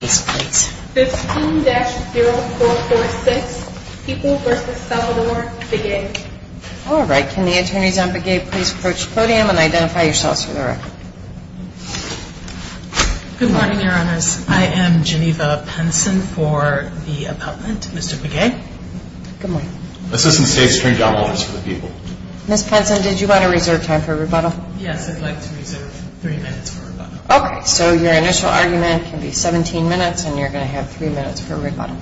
15-0446, People v. Salvador, Begay All right. Can the attorneys on Begay please approach the podium and identify yourselves for the record? Good morning, Your Honors. I am Geneva Penson for the appellant, Mr. Begay. Good morning. Assistant State Attorney John Walters for the People. Ms. Penson, did you want to reserve time for rebuttal? Okay. So your initial argument can be 17 minutes, and you're going to have three minutes for rebuttal.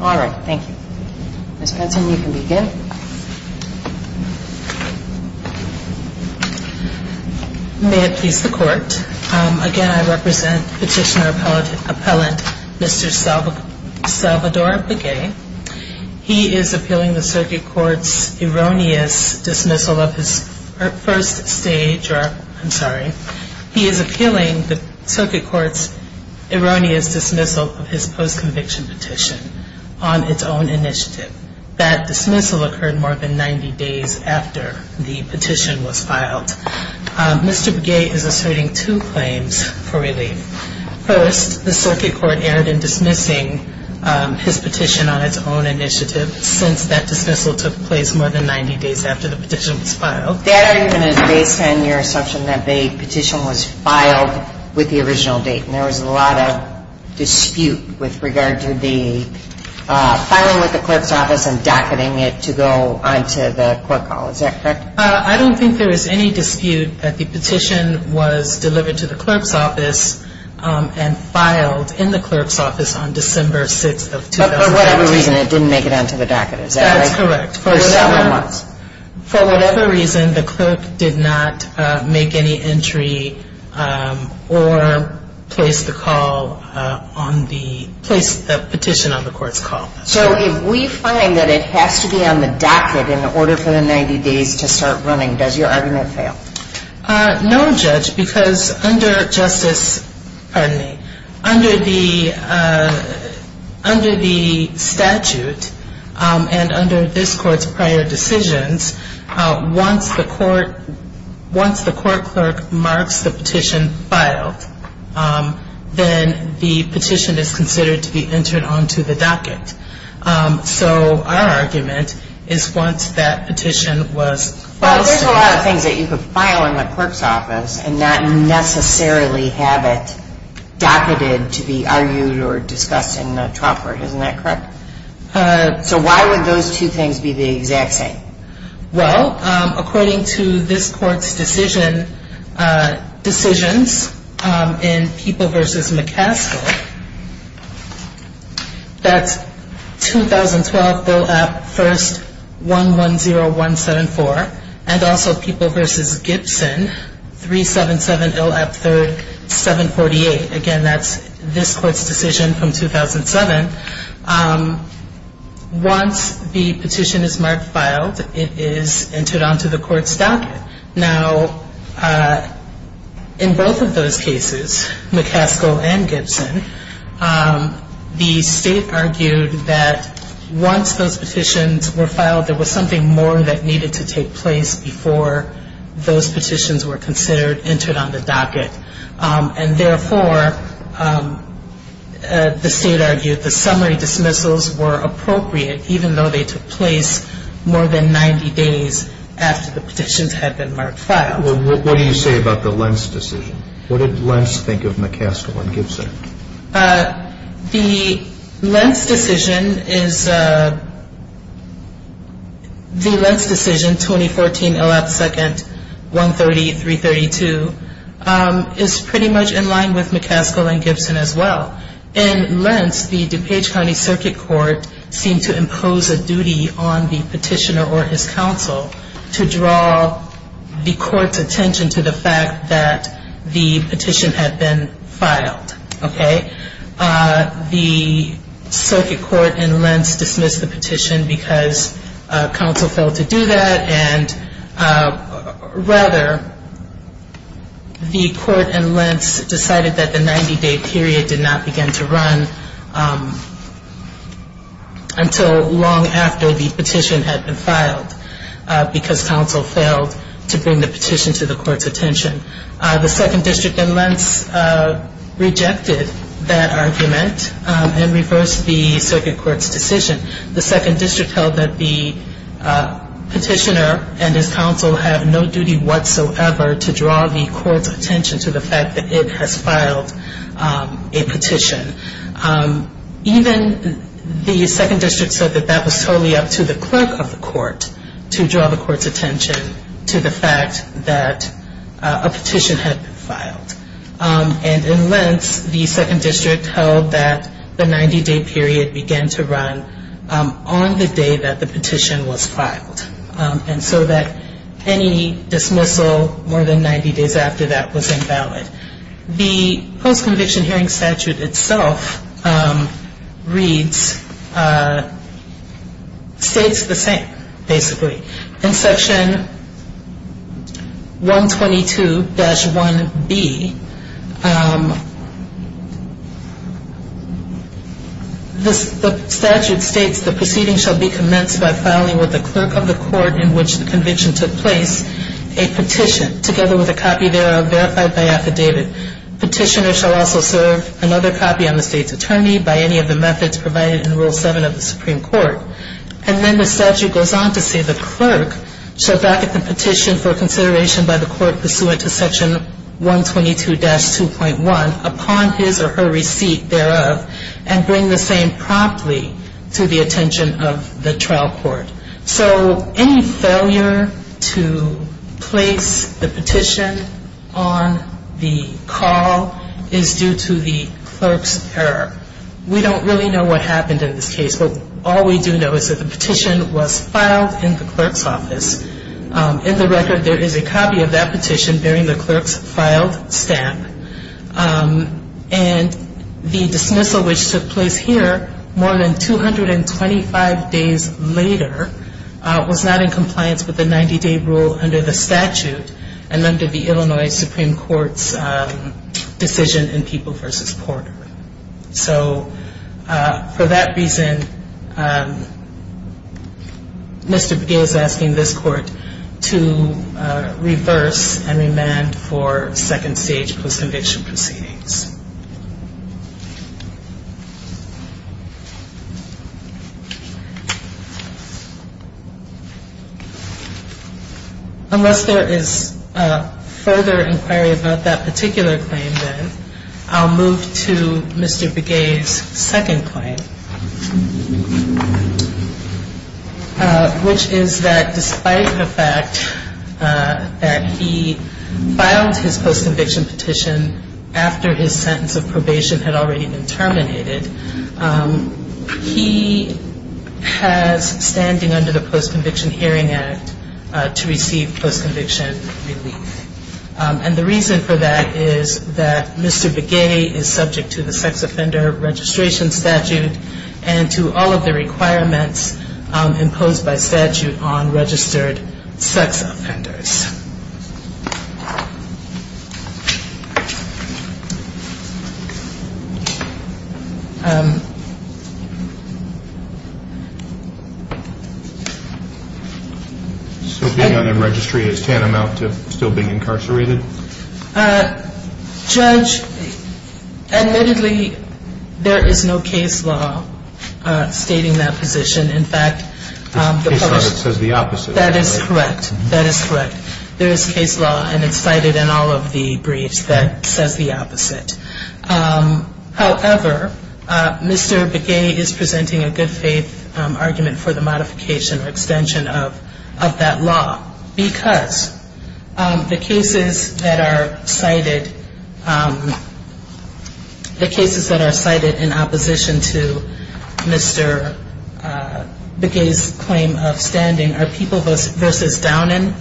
All right. Thank you. Ms. Penson, you can begin. May it please the Court, again, I represent Petitioner Appellant Mr. Salvador Begay. He is appealing the Circuit Court's erroneous dismissal of his first stage or, I'm sorry, he is appealing the Circuit Court's erroneous dismissal of his post-conviction petition on its own initiative. That dismissal occurred more than 90 days after the petition was filed. Mr. Begay is asserting two claims for relief. First, the Circuit Court erred in dismissing his petition on its own initiative since that dismissal took place more than 90 days after the petition was filed. That argument is based on your assumption that the petition was filed with the original date, and there was a lot of dispute with regard to the filing with the clerk's office and docketing it to go onto the court call. Is that correct? I don't think there was any dispute that the petition was delivered to the clerk's office and filed in the clerk's office on December 6th of 2010. But for whatever reason, it didn't make it onto the docket, is that right? That's correct. For several months. For whatever reason, the clerk did not make any entry or place the call on the, place the petition on the court's call. So if we find that it has to be on the docket in order for the 90 days to start running, does your argument fail? No, Judge, because under Justice, pardon me, under the statute and under this court's prior decisions, once the court clerk marks the petition filed, then the petition is considered to be entered onto the docket. So our argument is once that petition was filed. Well, there's a lot of things that you could file in the clerk's office and not necessarily have it docketed to be argued or discussed in the trial court. Isn't that correct? So why would those two things be the exact same? Well, according to this court's decision, decisions in People v. McCaskill, that's 2012 ILAP 1st, 110174, and also People v. Gibson, 377 ILAP 3rd, 748. Again, that's this court's decision from 2007. Once the petition is marked filed, it is entered onto the court's docket. Now, in both of those cases, McCaskill and Gibson, the state argued that once those petitions were filed, there was something more that needed to take place before those petitions were considered entered on the docket. And therefore, the state argued the summary dismissals were appropriate, even though they took place more than 90 days after the petitions had been marked filed. Well, what do you say about the Lentz decision? What did Lentz think of McCaskill and Gibson? The Lentz decision, 2014 ILAP 2nd, 130332, is pretty much in line with McCaskill and Gibson as well. In Lentz, the DuPage County Circuit Court seemed to impose a duty on the petitioner or his counsel to draw the court's attention to the fact that the petition had been filed. The circuit court in Lentz dismissed the petition because counsel failed to do that, and rather, the court in Lentz decided that the 90-day period did not begin to run until long after the petition had been filed, because counsel failed to bring the petition to the court's attention. The 2nd District in Lentz rejected that argument and reversed the circuit court's decision. The 2nd District held that the petitioner and his counsel have no duty whatsoever to draw the court's attention to the fact that it has filed a petition. Even the 2nd District said that that was totally up to the clerk of the court to draw the court's attention to the fact that a petition had been filed. And in Lentz, the 2nd District held that the 90-day period began to run on the day that the petition was filed, and so that any dismissal more than 90 days after that was invalid. The post-conviction hearing statute itself reads, states the same, basically. In Section 122-1B, the statute states, the proceeding shall be commenced by filing with the clerk of the court in which the conviction took place a petition together with a copy thereof verified by affidavit. Petitioner shall also serve another copy on the state's attorney by any of the methods provided in Rule 7 of the Supreme Court. And then the statute goes on to say the clerk shall back up the petition for consideration by the court pursuant to Section 122-2.1 upon his or her receipt thereof, and bring the same promptly to the attention of the trial court. So any failure to place the petition on the call is due to the clerk's error. We don't really know what happened in this case, but all we do know is that the petition was filed in the clerk's office. In the record, there is a copy of that petition bearing the clerk's filed stamp. And the dismissal, which took place here more than 225 days later, was not in compliance with the 90-day rule under the statute, and under the Illinois Supreme Court's decision in People v. Porter. So for that reason, Mr. Begay is asking this court to reverse and remand for second stage post-conviction. And that's what we're going to do in this case. We're going to move to the post-conviction proceedings. Unless there is further inquiry about that particular claim, then, I'll move to Mr. Begay's second claim, which is that despite the fact that he filed his post-conviction petition after his sentence of probation had already been terminated, he has standing under the Post-Conviction Hearing Act to receive post-conviction relief. And the reason for that is that Mr. Begay is subject to the sex offender registration statute and to all of the requirements imposed by statute on registered sex offenders. So being unregistered is tantamount to still being incarcerated? Judge, admittedly, there is no case law stating that position. In fact, the published... This case law that says the opposite. That is correct. That is correct. However, Mr. Begay is presenting a good-faith argument for the modification or extension of that law because the cases that are cited in opposition to Mr. Begay's claim of standing are People v. Downen,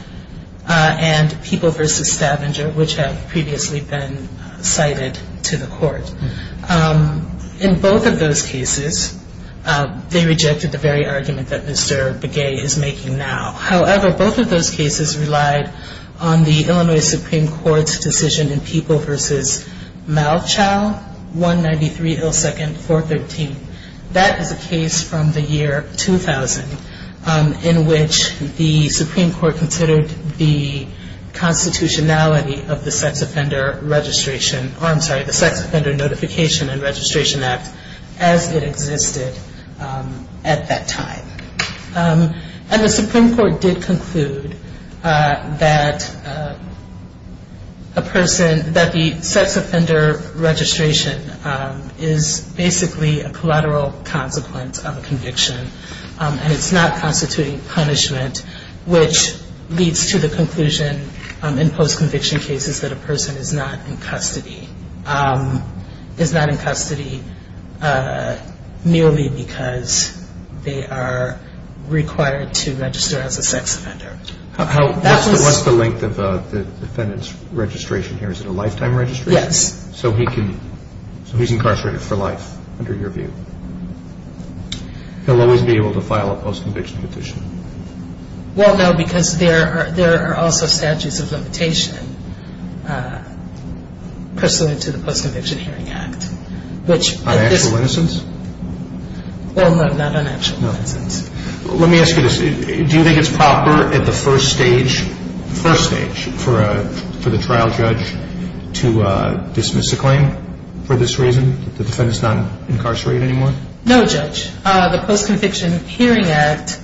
and People v. Stavanger, which have previously been cited to the court. In both of those cases, they rejected the very argument that Mr. Begay is making now. However, both of those cases relied on the Illinois Supreme Court's decision in People v. Malchow, 193 L. 2nd, 413. That is a case from the year 2000 in which the Supreme Court considered the constitutionality of the Sex Offender Notification and Registration Act as it existed at that time. And the Supreme Court did conclude that a person... that the sex offender registration is basically a collateral consequence of a conviction and it's not constituting punishment, which leads to the conclusion in post-conviction cases that a person is not in custody merely because they are required to register as a sex offender. What's the length of the defendant's registration here? Is it a lifetime registration? Yes. So he's incarcerated for life, under your view. He'll always be able to file a post-conviction petition. Well, no, because there are also statutes of limitation pursuant to the Post-Conviction Hearing Act, which... On actual innocence? Well, no, not on actual innocence. Let me ask you this. Do you think it's proper at the first stage, first stage, for the trial judge to dismiss the claim for this reason, that the defendant's not incarcerated anymore? No, Judge. The Post-Conviction Hearing Act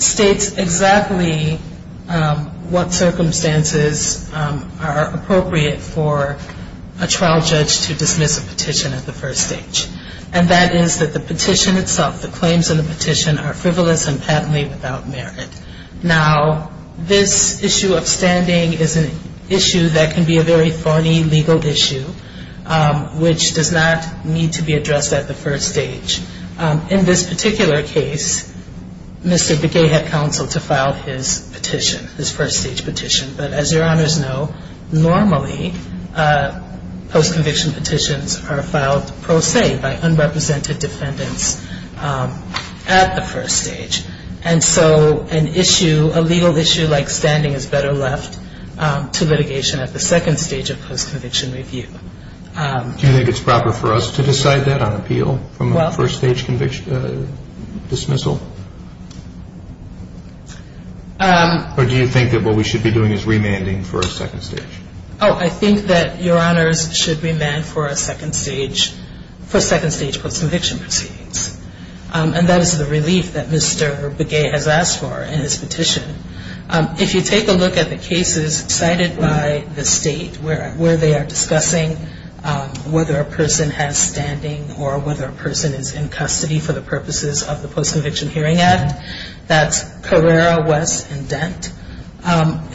states exactly what circumstances are appropriate for a trial judge to dismiss a petition at the first stage. And that is that the petition itself, the claims in the petition, are frivolous and patently without merit. Now, this issue of standing is an issue that can be a very thorny legal issue, which does not need to be addressed at the first stage. In this particular case, Mr. Begay had counsel to file his petition, his first-stage petition. But as your honors know, normally post-conviction petitions are filed pro se by unrepresented defendants at the first stage. And so an issue, a legal issue like standing is better left to litigation at the second stage of post-conviction review. Do you think it's proper for us to decide that on appeal from a first-stage dismissal? Or do you think that what we should be doing is remanding for a second stage? Oh, I think that your honors should remand for a second stage, for second-stage post-conviction proceedings. And that is the relief that Mr. Begay has asked for in his petition. If you take a look at the cases cited by the state where they are discussing whether a person has standing or whether a person is in custody for the purposes of the Post-Conviction Hearing Act, that's Carrera, West, and Dent.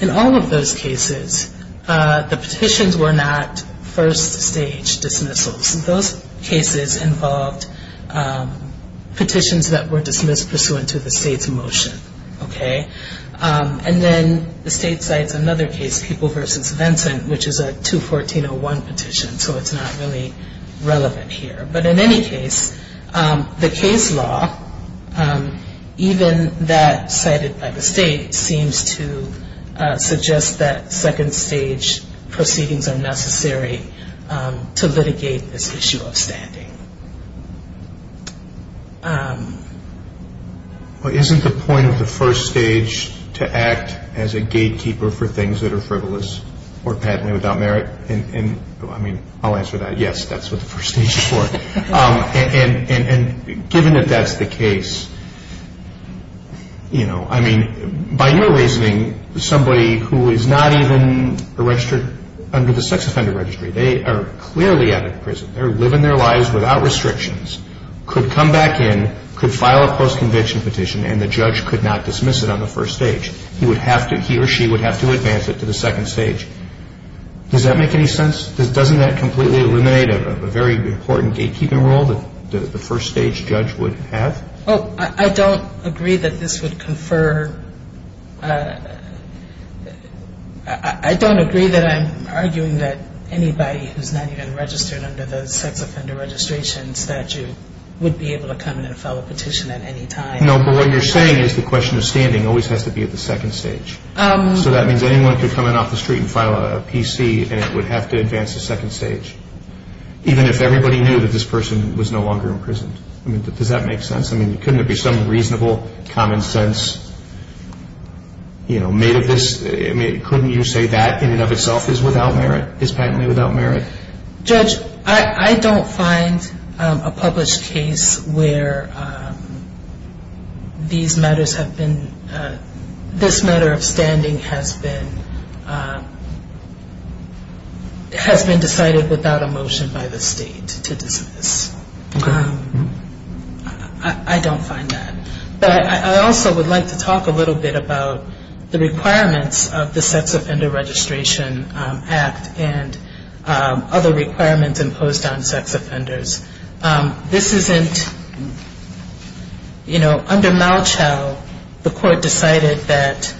In all of those cases, the petitions were not first-stage dismissals. Those cases involved petitions that were dismissed pursuant to the state's motion, okay? And then the state cites another case, People v. Vincent, which is a 214.01 petition, so it's not really relevant here. But in any case, the case law, even that cited by the state, seems to suggest that second-stage proceedings are necessary to litigate this issue of standing. Well, isn't the point of the first stage to act as a gatekeeper for things that are frivolous or patently without merit? I mean, I'll answer that. Yes, that's what the first stage is for. And given that that's the case, you know, I mean, by your reasoning, somebody who is not even registered under the sex offender registry, they are clearly out of prison. They're living their lives without restrictions, could come back in, could file a post-conviction petition, and the judge could not dismiss it on the first stage. He or she would have to advance it to the second stage. Does that make any sense? Doesn't that completely eliminate a very important gatekeeping role that the first-stage judge would have? Oh, I don't agree that this would confer. I don't agree that I'm arguing that anybody who's not even registered under the sex offender registration statute would be able to come in and file a petition at any time. No, but what you're saying is the question of standing always has to be at the second stage. So that means anyone could come in off the street and file a PC, and it would have to advance to second stage, even if everybody knew that this person was no longer imprisoned. I mean, does that make sense? I mean, couldn't there be some reasonable common sense, you know, made of this? I mean, couldn't you say that in and of itself is without merit, is patently without merit? Judge, I don't find a published case where these matters have been, this matter of standing has been, has been decided without a motion by the state to dismiss. Okay. I don't find that. But I also would like to talk a little bit about the requirements of the sex offender registration act and other requirements imposed on sex offenders. This isn't, you know, under Malchow, the court decided that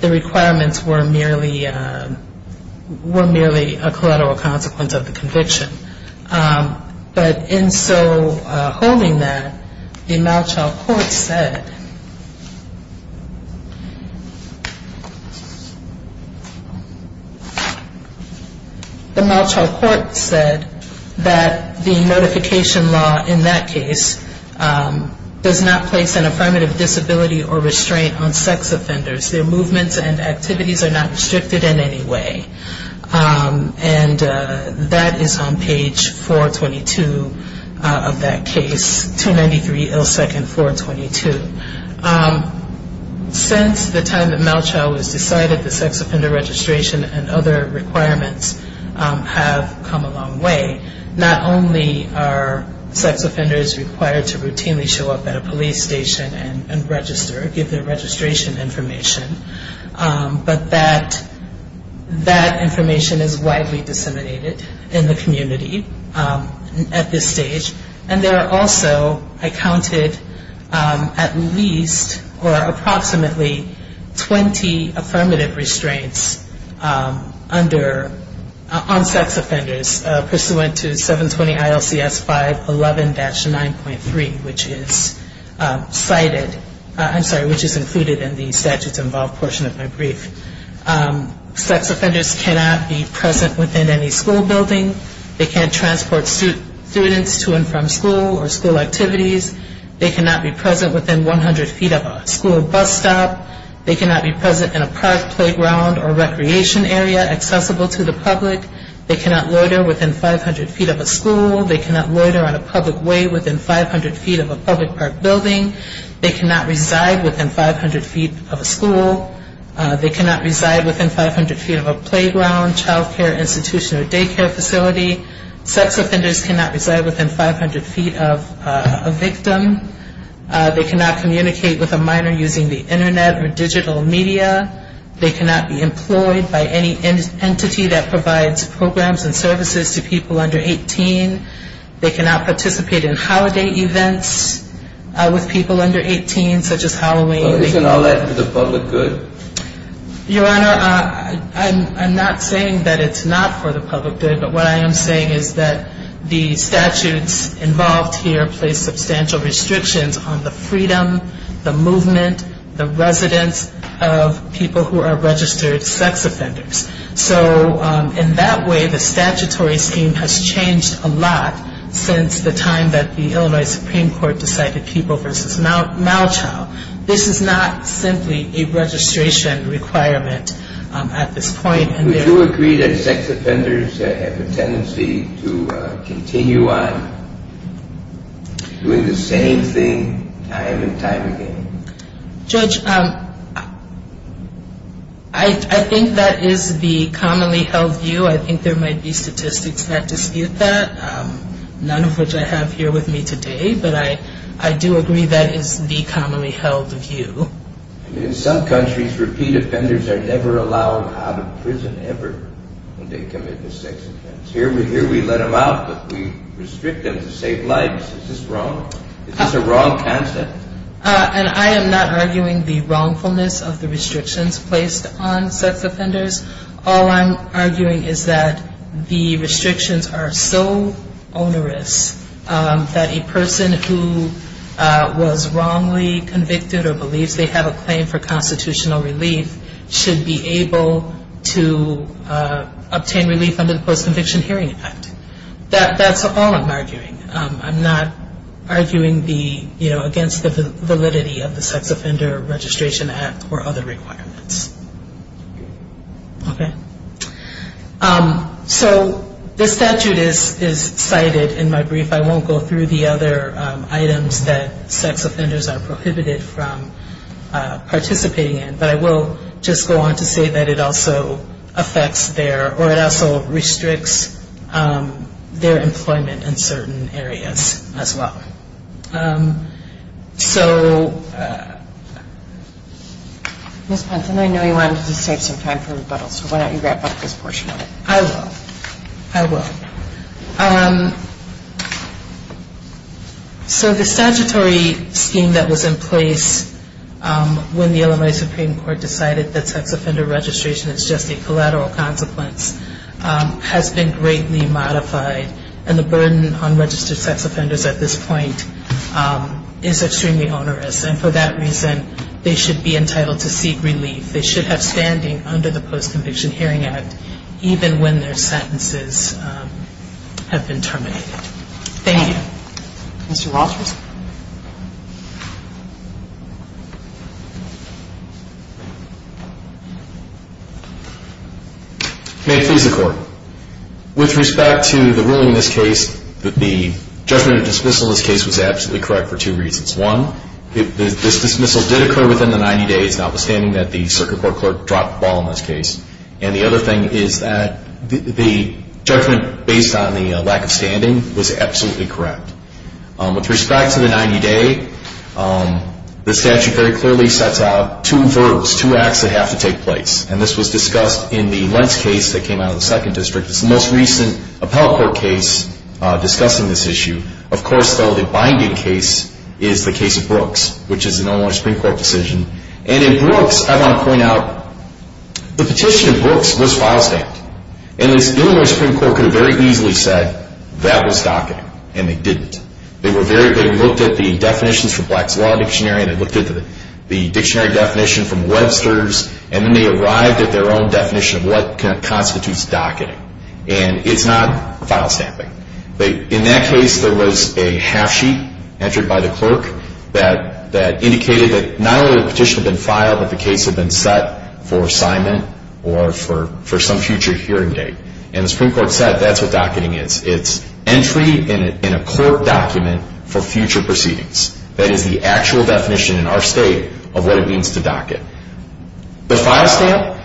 the requirements were merely, were merely a collateral consequence of the conviction. But in so holding that, the Malchow court said, the Malchow court said that the notification law in that case does not place an affirmative disability or restraint on sex offenders. Their movements and activities are not restricted in any way. And that is on page 422 of that case, 293 L second 422. Since the time that Malchow was decided, the sex offender registration and other requirements have come a long way. Not only are sex offenders required to routinely show up at a police station and register, give their registration information, but that, that information is widely disseminated in the community at this stage. And there are also, I counted, at least or approximately 20 affirmative restraints under, on sex offenders pursuant to 720 ILCS 511-9.3, which is cited, I'm sorry, which is included in the statutes involved portion of my brief. Sex offenders cannot be present within any school building. They can't transport students to and from school or school activities. They cannot be present within 100 feet of a school bus stop. They cannot be present in a park, playground or recreation area accessible to the public. They cannot loiter within 500 feet of a school. They cannot loiter on a public way within 500 feet of a public park building. They cannot reside within 500 feet of a school. They cannot reside within 500 feet of a playground, childcare institution or daycare facility. Sex offenders cannot reside within 500 feet of a victim. They cannot communicate with a minor using the Internet or digital media. They cannot be employed by any entity that provides programs and services to people under 18. They cannot participate in holiday events with people under 18, such as Halloween. Isn't all that for the public good? Your Honor, I'm not saying that it's not for the public good. But what I am saying is that the statutes involved here place substantial restrictions on the freedom, the movement, the residence of people who are registered sex offenders. So, in that way, the statutory scheme has changed a lot since the time that the Illinois Supreme Court decided people versus mal-child. This is not simply a registration requirement at this point. Would you agree that sex offenders have a tendency to continue on doing the same thing time and time again? Judge, I think that is the commonly held view. I think there might be statistics that dispute that, none of which I have here with me today. But I do agree that is the commonly held view. In some countries, repeat offenders are never allowed out of prison ever when they commit a sex offense. Here we let them out, but we restrict them to save lives. Is this wrong? Is this a wrong concept? And I am not arguing the wrongfulness of the restrictions placed on sex offenders. All I'm arguing is that the restrictions are so onerous that a person who was wrongly convicted or believes they have a claim for constitutional relief should be able to obtain relief under the Post-Conviction Hearing Act. That's all I'm arguing. I'm not arguing against the validity of the Sex Offender Registration Act or other requirements. Okay. So this statute is cited in my brief. I won't go through the other items that sex offenders are prohibited from participating in, but I will just go on to say that it also affects their, or it also restricts their employment in certain areas as well. So... Ms. Ponson, I know you wanted to save some time for rebuttal, so why don't you wrap up this portion of it. I will. I will. So the statutory scheme that was in place when the Illinois Supreme Court decided that sex offender registration is just a collateral consequence has been greatly modified, and the burden on registered sex offenders at this point is extremely onerous. And for that reason, they should be entitled to seek relief. They should have standing under the Post-Conviction Hearing Act even when their sentences have been terminated. Thank you. Mr. Rogers? May it please the Court. With respect to the ruling in this case that the judgment of dismissal in this case was absolutely correct for two reasons. One, this dismissal did occur within the 90 days, notwithstanding that the Circuit Court clerk dropped the ball in this case. And the other thing is that the judgment based on the lack of standing was absolutely correct. With respect to the 90-day, the statute very clearly sets out two verbs, two acts that have to take place, and this was discussed in the Lentz case that came out of the Second District. It's the most recent appellate court case discussing this issue. Of course, though, the binding case is the case of Brooks, which is an Illinois Supreme Court decision. And in Brooks, I want to point out, the petition in Brooks was file-stamped, and the Illinois Supreme Court could have very easily said that was docketing, and they didn't. They looked at the definitions for Black's Law Dictionary, and they looked at the dictionary definition from Webster's, and then they arrived at their own definition of what constitutes docketing, and it's not file-stamping. In that case, there was a half-sheet entered by the clerk that indicated that not only the petition had been filed, but the case had been set for assignment or for some future hearing date. And the Supreme Court said that's what docketing is. It's entry in a court document for future proceedings. That is the actual definition in our state of what it means to docket. The file-stamp,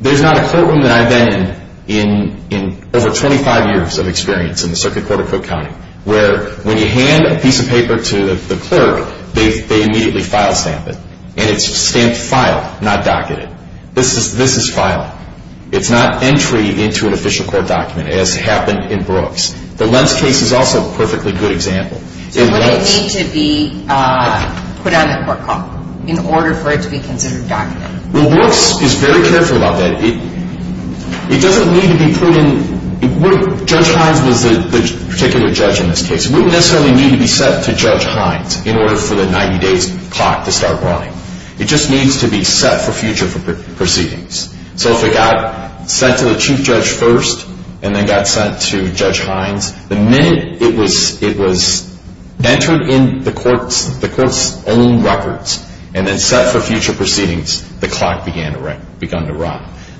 there's not a courtroom that I've been in over 25 years of experience in the Circuit Court of Cook County where when you hand a piece of paper to the clerk, they immediately file-stamp it. And it's stamped file, not docketed. This is file. It's not entry into an official court document, as happened in Brooks. The Lentz case is also a perfectly good example. So would it need to be put on the court call in order for it to be considered docketing? Well, Brooks is very careful about that. It doesn't need to be put in. Judge Hines was the particular judge in this case. It wouldn't necessarily need to be set to Judge Hines in order for the 90 days clock to start running. It just needs to be set for future proceedings. So if it got sent to the chief judge first and then got sent to Judge Hines, the minute it was entered in the court's own records and then set for future proceedings, the clock began to run.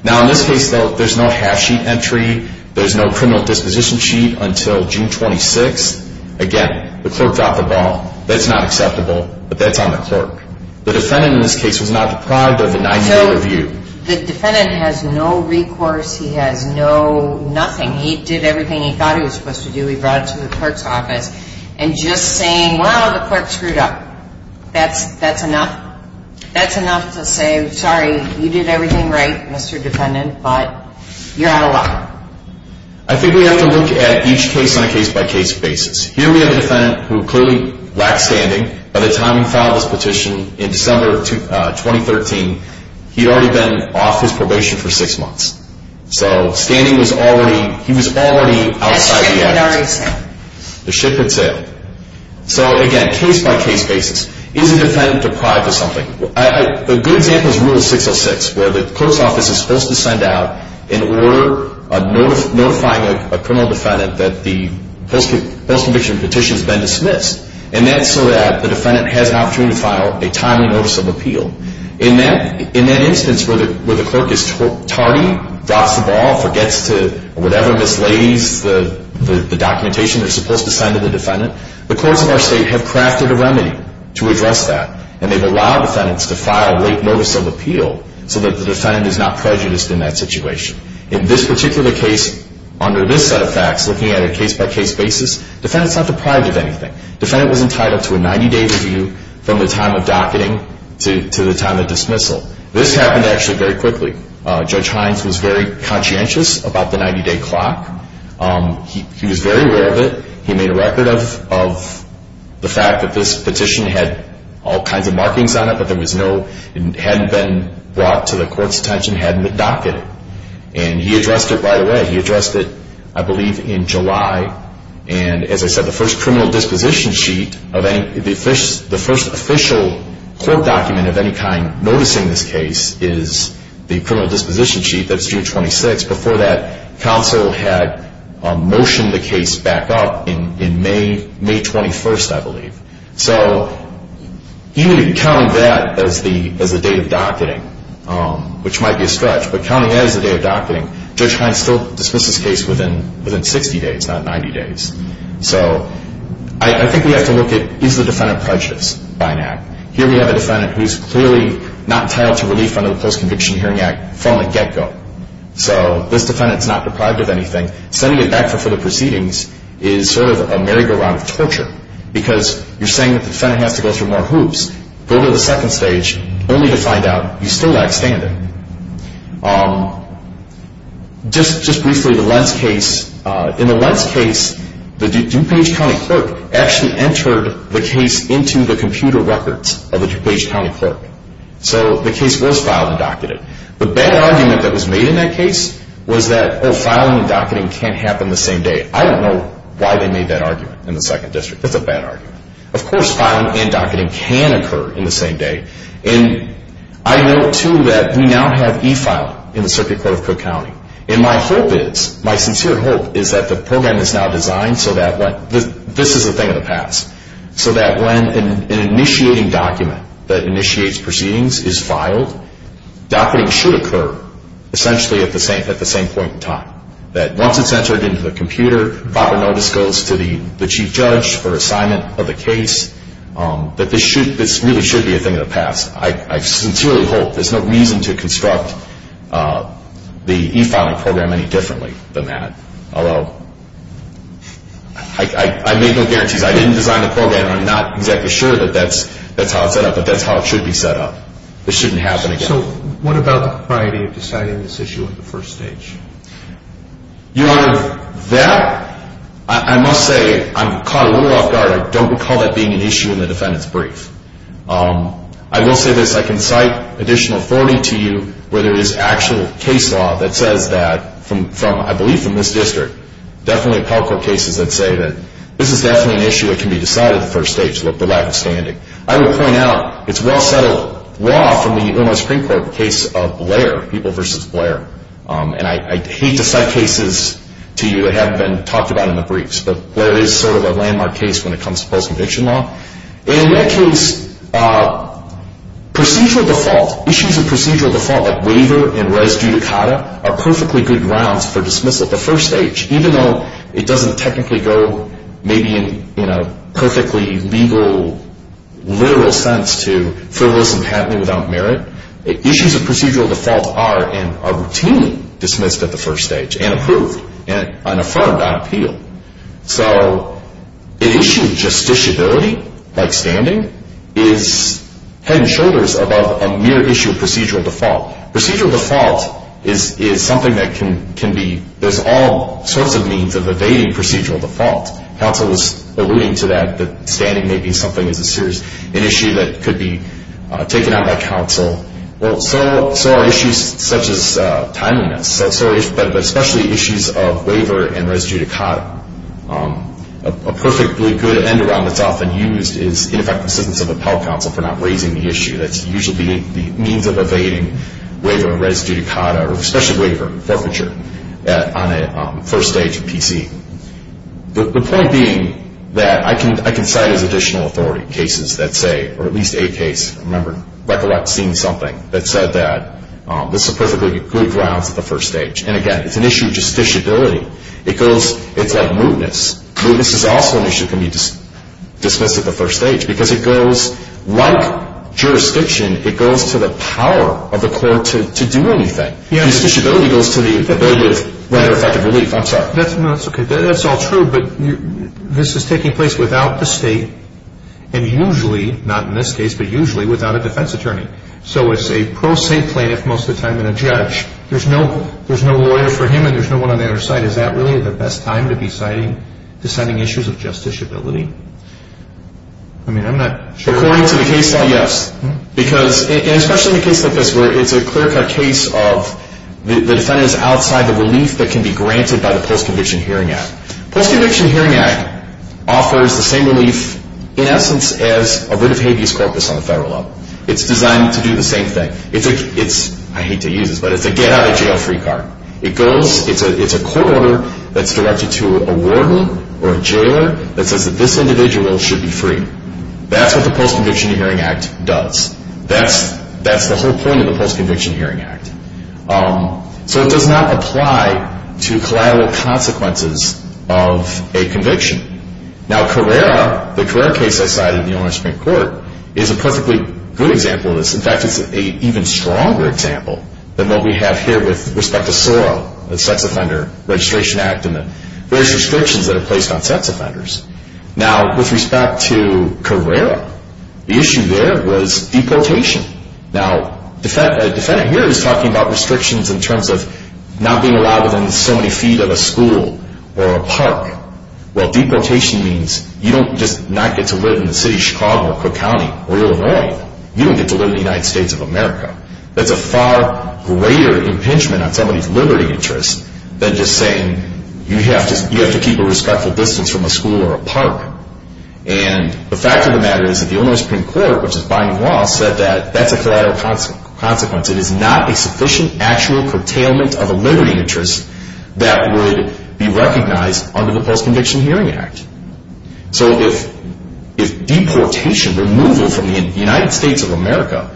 Now, in this case, though, there's no half-sheet entry. There's no criminal disposition sheet until June 26th. Again, the clerk dropped the ball. That's not acceptable, but that's on the clerk. The defendant in this case was not deprived of a 90-day review. So the defendant has no recourse. He has no nothing. He did everything he thought he was supposed to do. He brought it to the clerk's office. And just saying, well, the clerk screwed up, that's enough? That's enough to say, sorry, you did everything right, Mr. Defendant, but you're out of luck. I think we have to look at each case on a case-by-case basis. Here we have a defendant who clearly lacked standing. By the time he filed his petition in December of 2013, he'd already been off his probation for six months. So standing was already – he was already outside the act. The ship had sailed. The ship had sailed. So, again, case-by-case basis. Is the defendant deprived of something? A good example is Rule 606, where the clerk's office is supposed to send out an order notifying a criminal defendant that the post-conviction petition has been dismissed. And that's so that the defendant has an opportunity to file a timely notice of appeal. In that instance where the clerk is tardy, drops the ball, forgets to – or whatever mislays the documentation they're supposed to send to the defendant, the courts of our state have crafted a remedy to address that. And they've allowed defendants to file late notice of appeal so that the defendant is not prejudiced in that situation. In this particular case, under this set of facts, looking at a case-by-case basis, defendant's not deprived of anything. Defendant was entitled to a 90-day review from the time of docketing to the time of dismissal. This happened actually very quickly. Judge Hines was very conscientious about the 90-day clock. He was very aware of it. He made a record of the fact that this petition had all kinds of markings on it, but there was no – it hadn't been brought to the court's attention, hadn't been docketed. And he addressed it right away. He addressed it, I believe, in July. And as I said, the first criminal disposition sheet of any – the first official court document of any kind noticing this case is the criminal disposition sheet. That's June 26th. Before that, counsel had motioned the case back up in May, May 21st, I believe. So even counting that as the date of docketing, which might be a stretch, but counting that as the day of docketing, Judge Hines still dismissed this case within 60 days, not 90 days. So I think we have to look at, is the defendant prejudiced by an act? Here we have a defendant who's clearly not entitled to relief under the Post-Conviction Hearing Act from the get-go. So this defendant's not deprived of anything. Sending it back for further proceedings is sort of a merry-go-round of torture because you're saying that the defendant has to go through more hoops, go to the second stage, only to find out you still lack standing. Just briefly, the Lentz case, in the Lentz case, the DuPage County clerk actually entered the case into the computer records of the DuPage County clerk. So the case was filed and docketed. The bad argument that was made in that case was that, oh, filing and docketing can't happen the same day. I don't know why they made that argument in the Second District. It's a bad argument. Of course filing and docketing can occur in the same day. And I note, too, that we now have e-filing in the Circuit Court of Cook County. And my hope is, my sincere hope, is that the program is now designed so that this is a thing of the past, so that when an initiating document that initiates proceedings is filed, docketing should occur essentially at the same point in time, that once it's entered into the computer, proper notice goes to the chief judge for assignment of the case, that this really should be a thing of the past. I sincerely hope there's no reason to construct the e-filing program any differently than that, although I made no guarantees. I didn't design the program, and I'm not exactly sure that that's how it's set up, but that's how it should be set up. This shouldn't happen again. So what about the priority of deciding this issue at the first stage? Your Honor, that, I must say, I'm caught a little off guard. I don't recall that being an issue in the defendant's brief. I will say this. I can cite additional authority to you where there is actual case law that says that, I believe from this district, definitely appellate court cases that say that this is definitely an issue that can be decided at the first stage, the lack of standing. I will point out it's well-settled law from the Illinois Supreme Court, the case of Blair, People v. Blair, and I hate to cite cases to you that haven't been talked about in the briefs, but Blair is sort of a landmark case when it comes to post-conviction law. In that case, procedural default, issues of procedural default, like waiver and res judicata, are perfectly good grounds for dismissal at the first stage, even though it doesn't technically go, maybe in a perfectly legal, literal sense, to frivolous and patently without merit. Issues of procedural default are, and are routinely dismissed at the first stage, and approved, and affirmed on appeal. So an issue of justiciability, like standing, is head and shoulders above a mere issue of procedural default. Procedural default is something that can be, there's all sorts of means of evading procedural default. Counsel was alluding to that, that standing may be something as a serious issue that could be taken out by counsel. Well, so are issues such as timeliness, but especially issues of waiver and res judicata. A perfectly good end-around that's often used is ineffective assistance of appellate counsel for not raising the issue. That's usually the means of evading waiver and res judicata, or especially waiver and forfeiture, on a first stage PC. The point being that I can cite as additional authority cases that say, or at least a case, remember, recollect seeing something that said that this is a perfectly good grounds at the first stage. And again, it's an issue of justiciability. It goes, it's like mootness. Mootness is also an issue that can be dismissed at the first stage, because it goes, like jurisdiction, it goes to the power of the court to do anything. Justiciability goes to the ability of effective relief. I'm sorry. No, that's okay. That's all true. But this is taking place without the state and usually, not in this case, but usually without a defense attorney. So it's a pro se plaintiff most of the time and a judge. There's no lawyer for him and there's no one on the other side. Is that really the best time to be citing issues of justiciability? I mean, I'm not sure. According to the case law, yes. Because especially in a case like this where it's a clear-cut case of the defendant is outside the relief that can be granted by the Post-Conviction Hearing Act. Post-Conviction Hearing Act offers the same relief, in essence, as a writ of habeas corpus on the federal level. It's designed to do the same thing. I hate to use this, but it's a get-out-of-jail-free card. It's a court order that's directed to a warden or a jailer that says that this individual should be free. That's what the Post-Conviction Hearing Act does. That's the whole point of the Post-Conviction Hearing Act. So it does not apply to collateral consequences of a conviction. Now, Carrera, the Carrera case I cited in the owner's Supreme Court, is a perfectly good example of this. In fact, it's an even stronger example than what we have here with respect to SORA, the Sex Offender Registration Act, and the various restrictions that are placed on sex offenders. Now, with respect to Carrera, the issue there was deportation. Now, a defendant here is talking about restrictions in terms of not being allowed within so many feet of a school or a park. Well, deportation means you don't just not get to live in the city of Chicago or Cook County or Illinois. You don't get to live in the United States of America. That's a far greater impingement on somebody's liberty interest than just saying you have to keep a respectful distance from a school or a park. And the fact of the matter is that the owner's Supreme Court, which is binding law, said that that's a collateral consequence. It is not a sufficient actual curtailment of a liberty interest that would be recognized under the Post-Conviction Hearing Act. So if deportation, removal from the United States of America,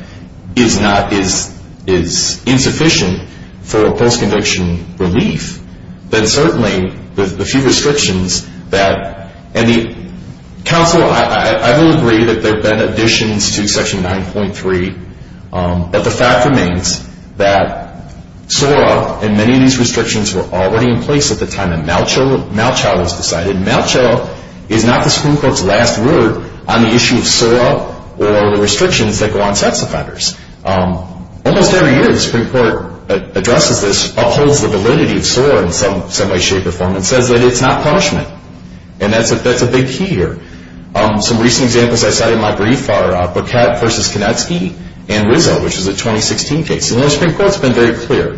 is insufficient for post-conviction relief, then certainly with the few restrictions that, and the counsel, I will agree that there have been additions to Section 9.3, but the fact remains that SORA and many of these restrictions were already in place at the time that Malchow was decided. Malchow is not the Supreme Court's last word on the issue of SORA or the restrictions that go on sex offenders. Almost every year the Supreme Court addresses this, upholds the validity of SORA in some way, shape, or form, and says that it's not punishment. And that's a big key here. Some recent examples I cited in my brief are Boquette v. Konetsky and Rizzo, which is a 2016 case. And the Supreme Court has been very clear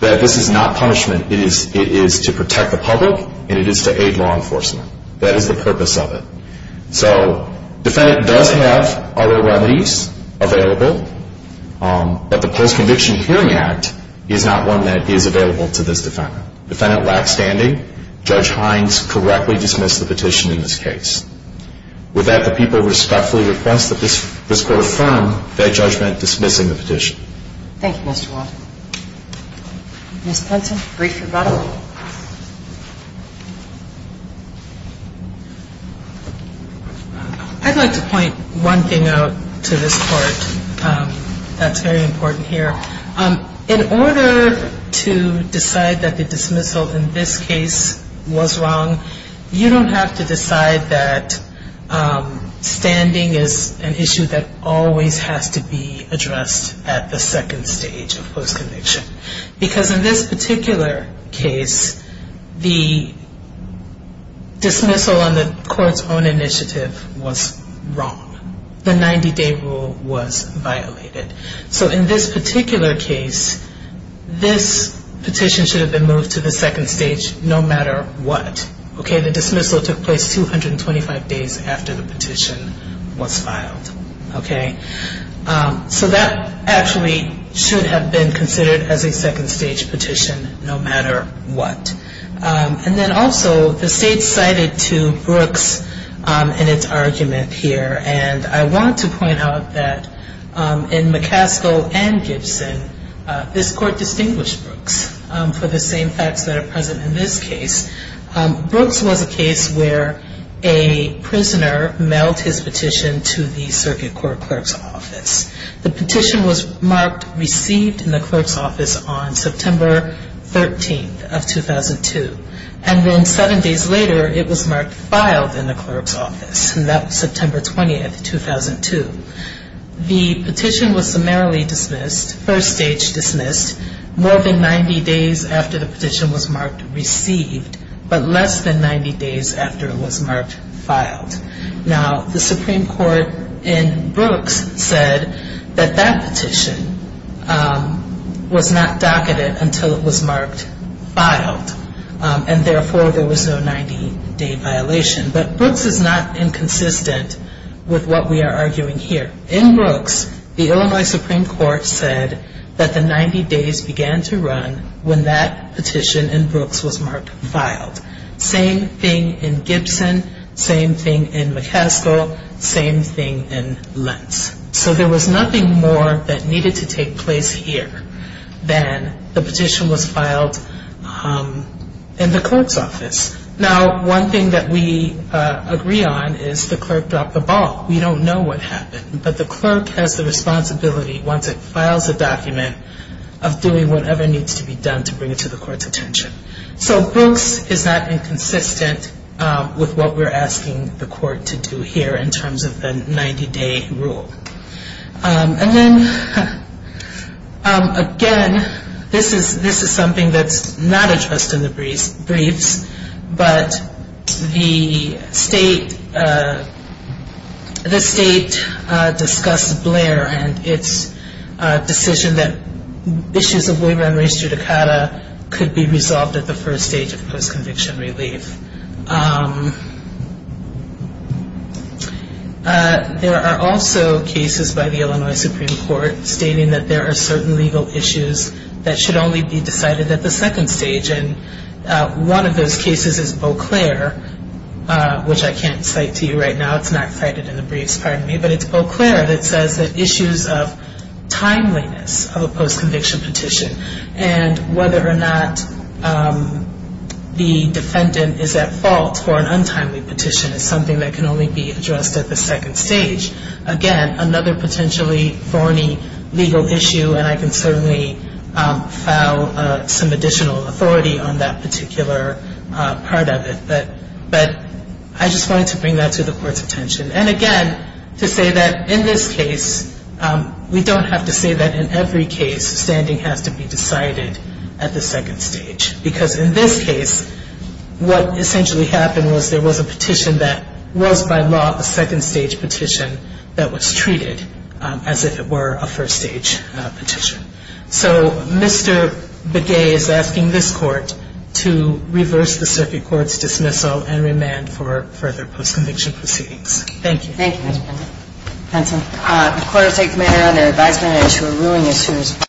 that this is not punishment. It is to protect the public and it is to aid law enforcement. That is the purpose of it. So the defendant does have other remedies available, but the Post-Conviction Hearing Act is not one that is available to this defendant. Defendant lack standing. Judge Hines correctly dismissed the petition in this case. With that, the people respectfully request that this Court affirm their judgment dismissing the petition. Thank you, Mr. Walter. Ms. Clemson, brief rebuttal. I'd like to point one thing out to this Court that's very important here. In order to decide that the dismissal in this case was wrong, you don't have to decide that standing is an issue that always has to be addressed at the second stage of post-conviction. Because in this particular case, the dismissal on the Court's own initiative was wrong. The 90-day rule was violated. So in this particular case, this petition should have been moved to the second stage no matter what. The dismissal took place 225 days after the petition was filed. So that actually should have been considered as a second stage petition no matter what. And then also, the State cited to Brooks in its argument here, and I want to point out that in McCaskill and Gibson, this Court distinguished Brooks for the same facts that are present in this case. Brooks was a case where a prisoner mailed his petition to the circuit court clerk's office. The petition was marked received in the clerk's office on September 13th of 2002. And then seven days later, it was marked filed in the clerk's office. And that was September 20th, 2002. The petition was summarily dismissed, first stage dismissed, more than 90 days after the petition was marked received, but less than 90 days after it was marked filed. Now, the Supreme Court in Brooks said that that petition was not docketed until it was marked filed. And therefore, there was no 90-day violation. But Brooks is not inconsistent with what we are arguing here. In Brooks, the Illinois Supreme Court said that the 90 days began to run when that petition in Brooks was marked filed. Same thing in Gibson, same thing in McCaskill, same thing in Lentz. So there was nothing more that needed to take place here than the petition was filed in the clerk's office. Now, one thing that we agree on is the clerk dropped the ball. We don't know what happened, but the clerk has the responsibility, once it files a document, of doing whatever needs to be done to bring it to the court's attention. So Brooks is not inconsistent with what we're asking the court to do here in terms of the 90-day rule. And then, again, this is something that's not addressed in the briefs, but the state discussed Blair and its decision that issues of waiver and res judicata could be resolved at the first stage of post-conviction relief. There are also cases by the Illinois Supreme Court stating that there are certain legal issues that should only be decided at the second stage. And one of those cases is Beauclair, which I can't cite to you right now. It's not cited in the briefs, pardon me. But it's Beauclair that says that issues of timeliness of a post-conviction petition and whether or not the defendant is at fault for an untimely petition is something that can only be addressed at the second stage. Again, another potentially thorny legal issue, and I can certainly file some additional authority on that particular part of it. But I just wanted to bring that to the court's attention. And, again, to say that in this case, we don't have to say that in every case standing has to be decided at the second stage. Because in this case, what essentially happened was there was a petition that was, by law, a second-stage petition that was treated as if it were a first-stage petition. So Mr. Begay is asking this Court to reverse the circuit court's dismissal and remand for further post-conviction proceedings. Thank you. Thank you, Mr. Penson. Penson. The Court will take the matter under advisement on an issue of ruling issues.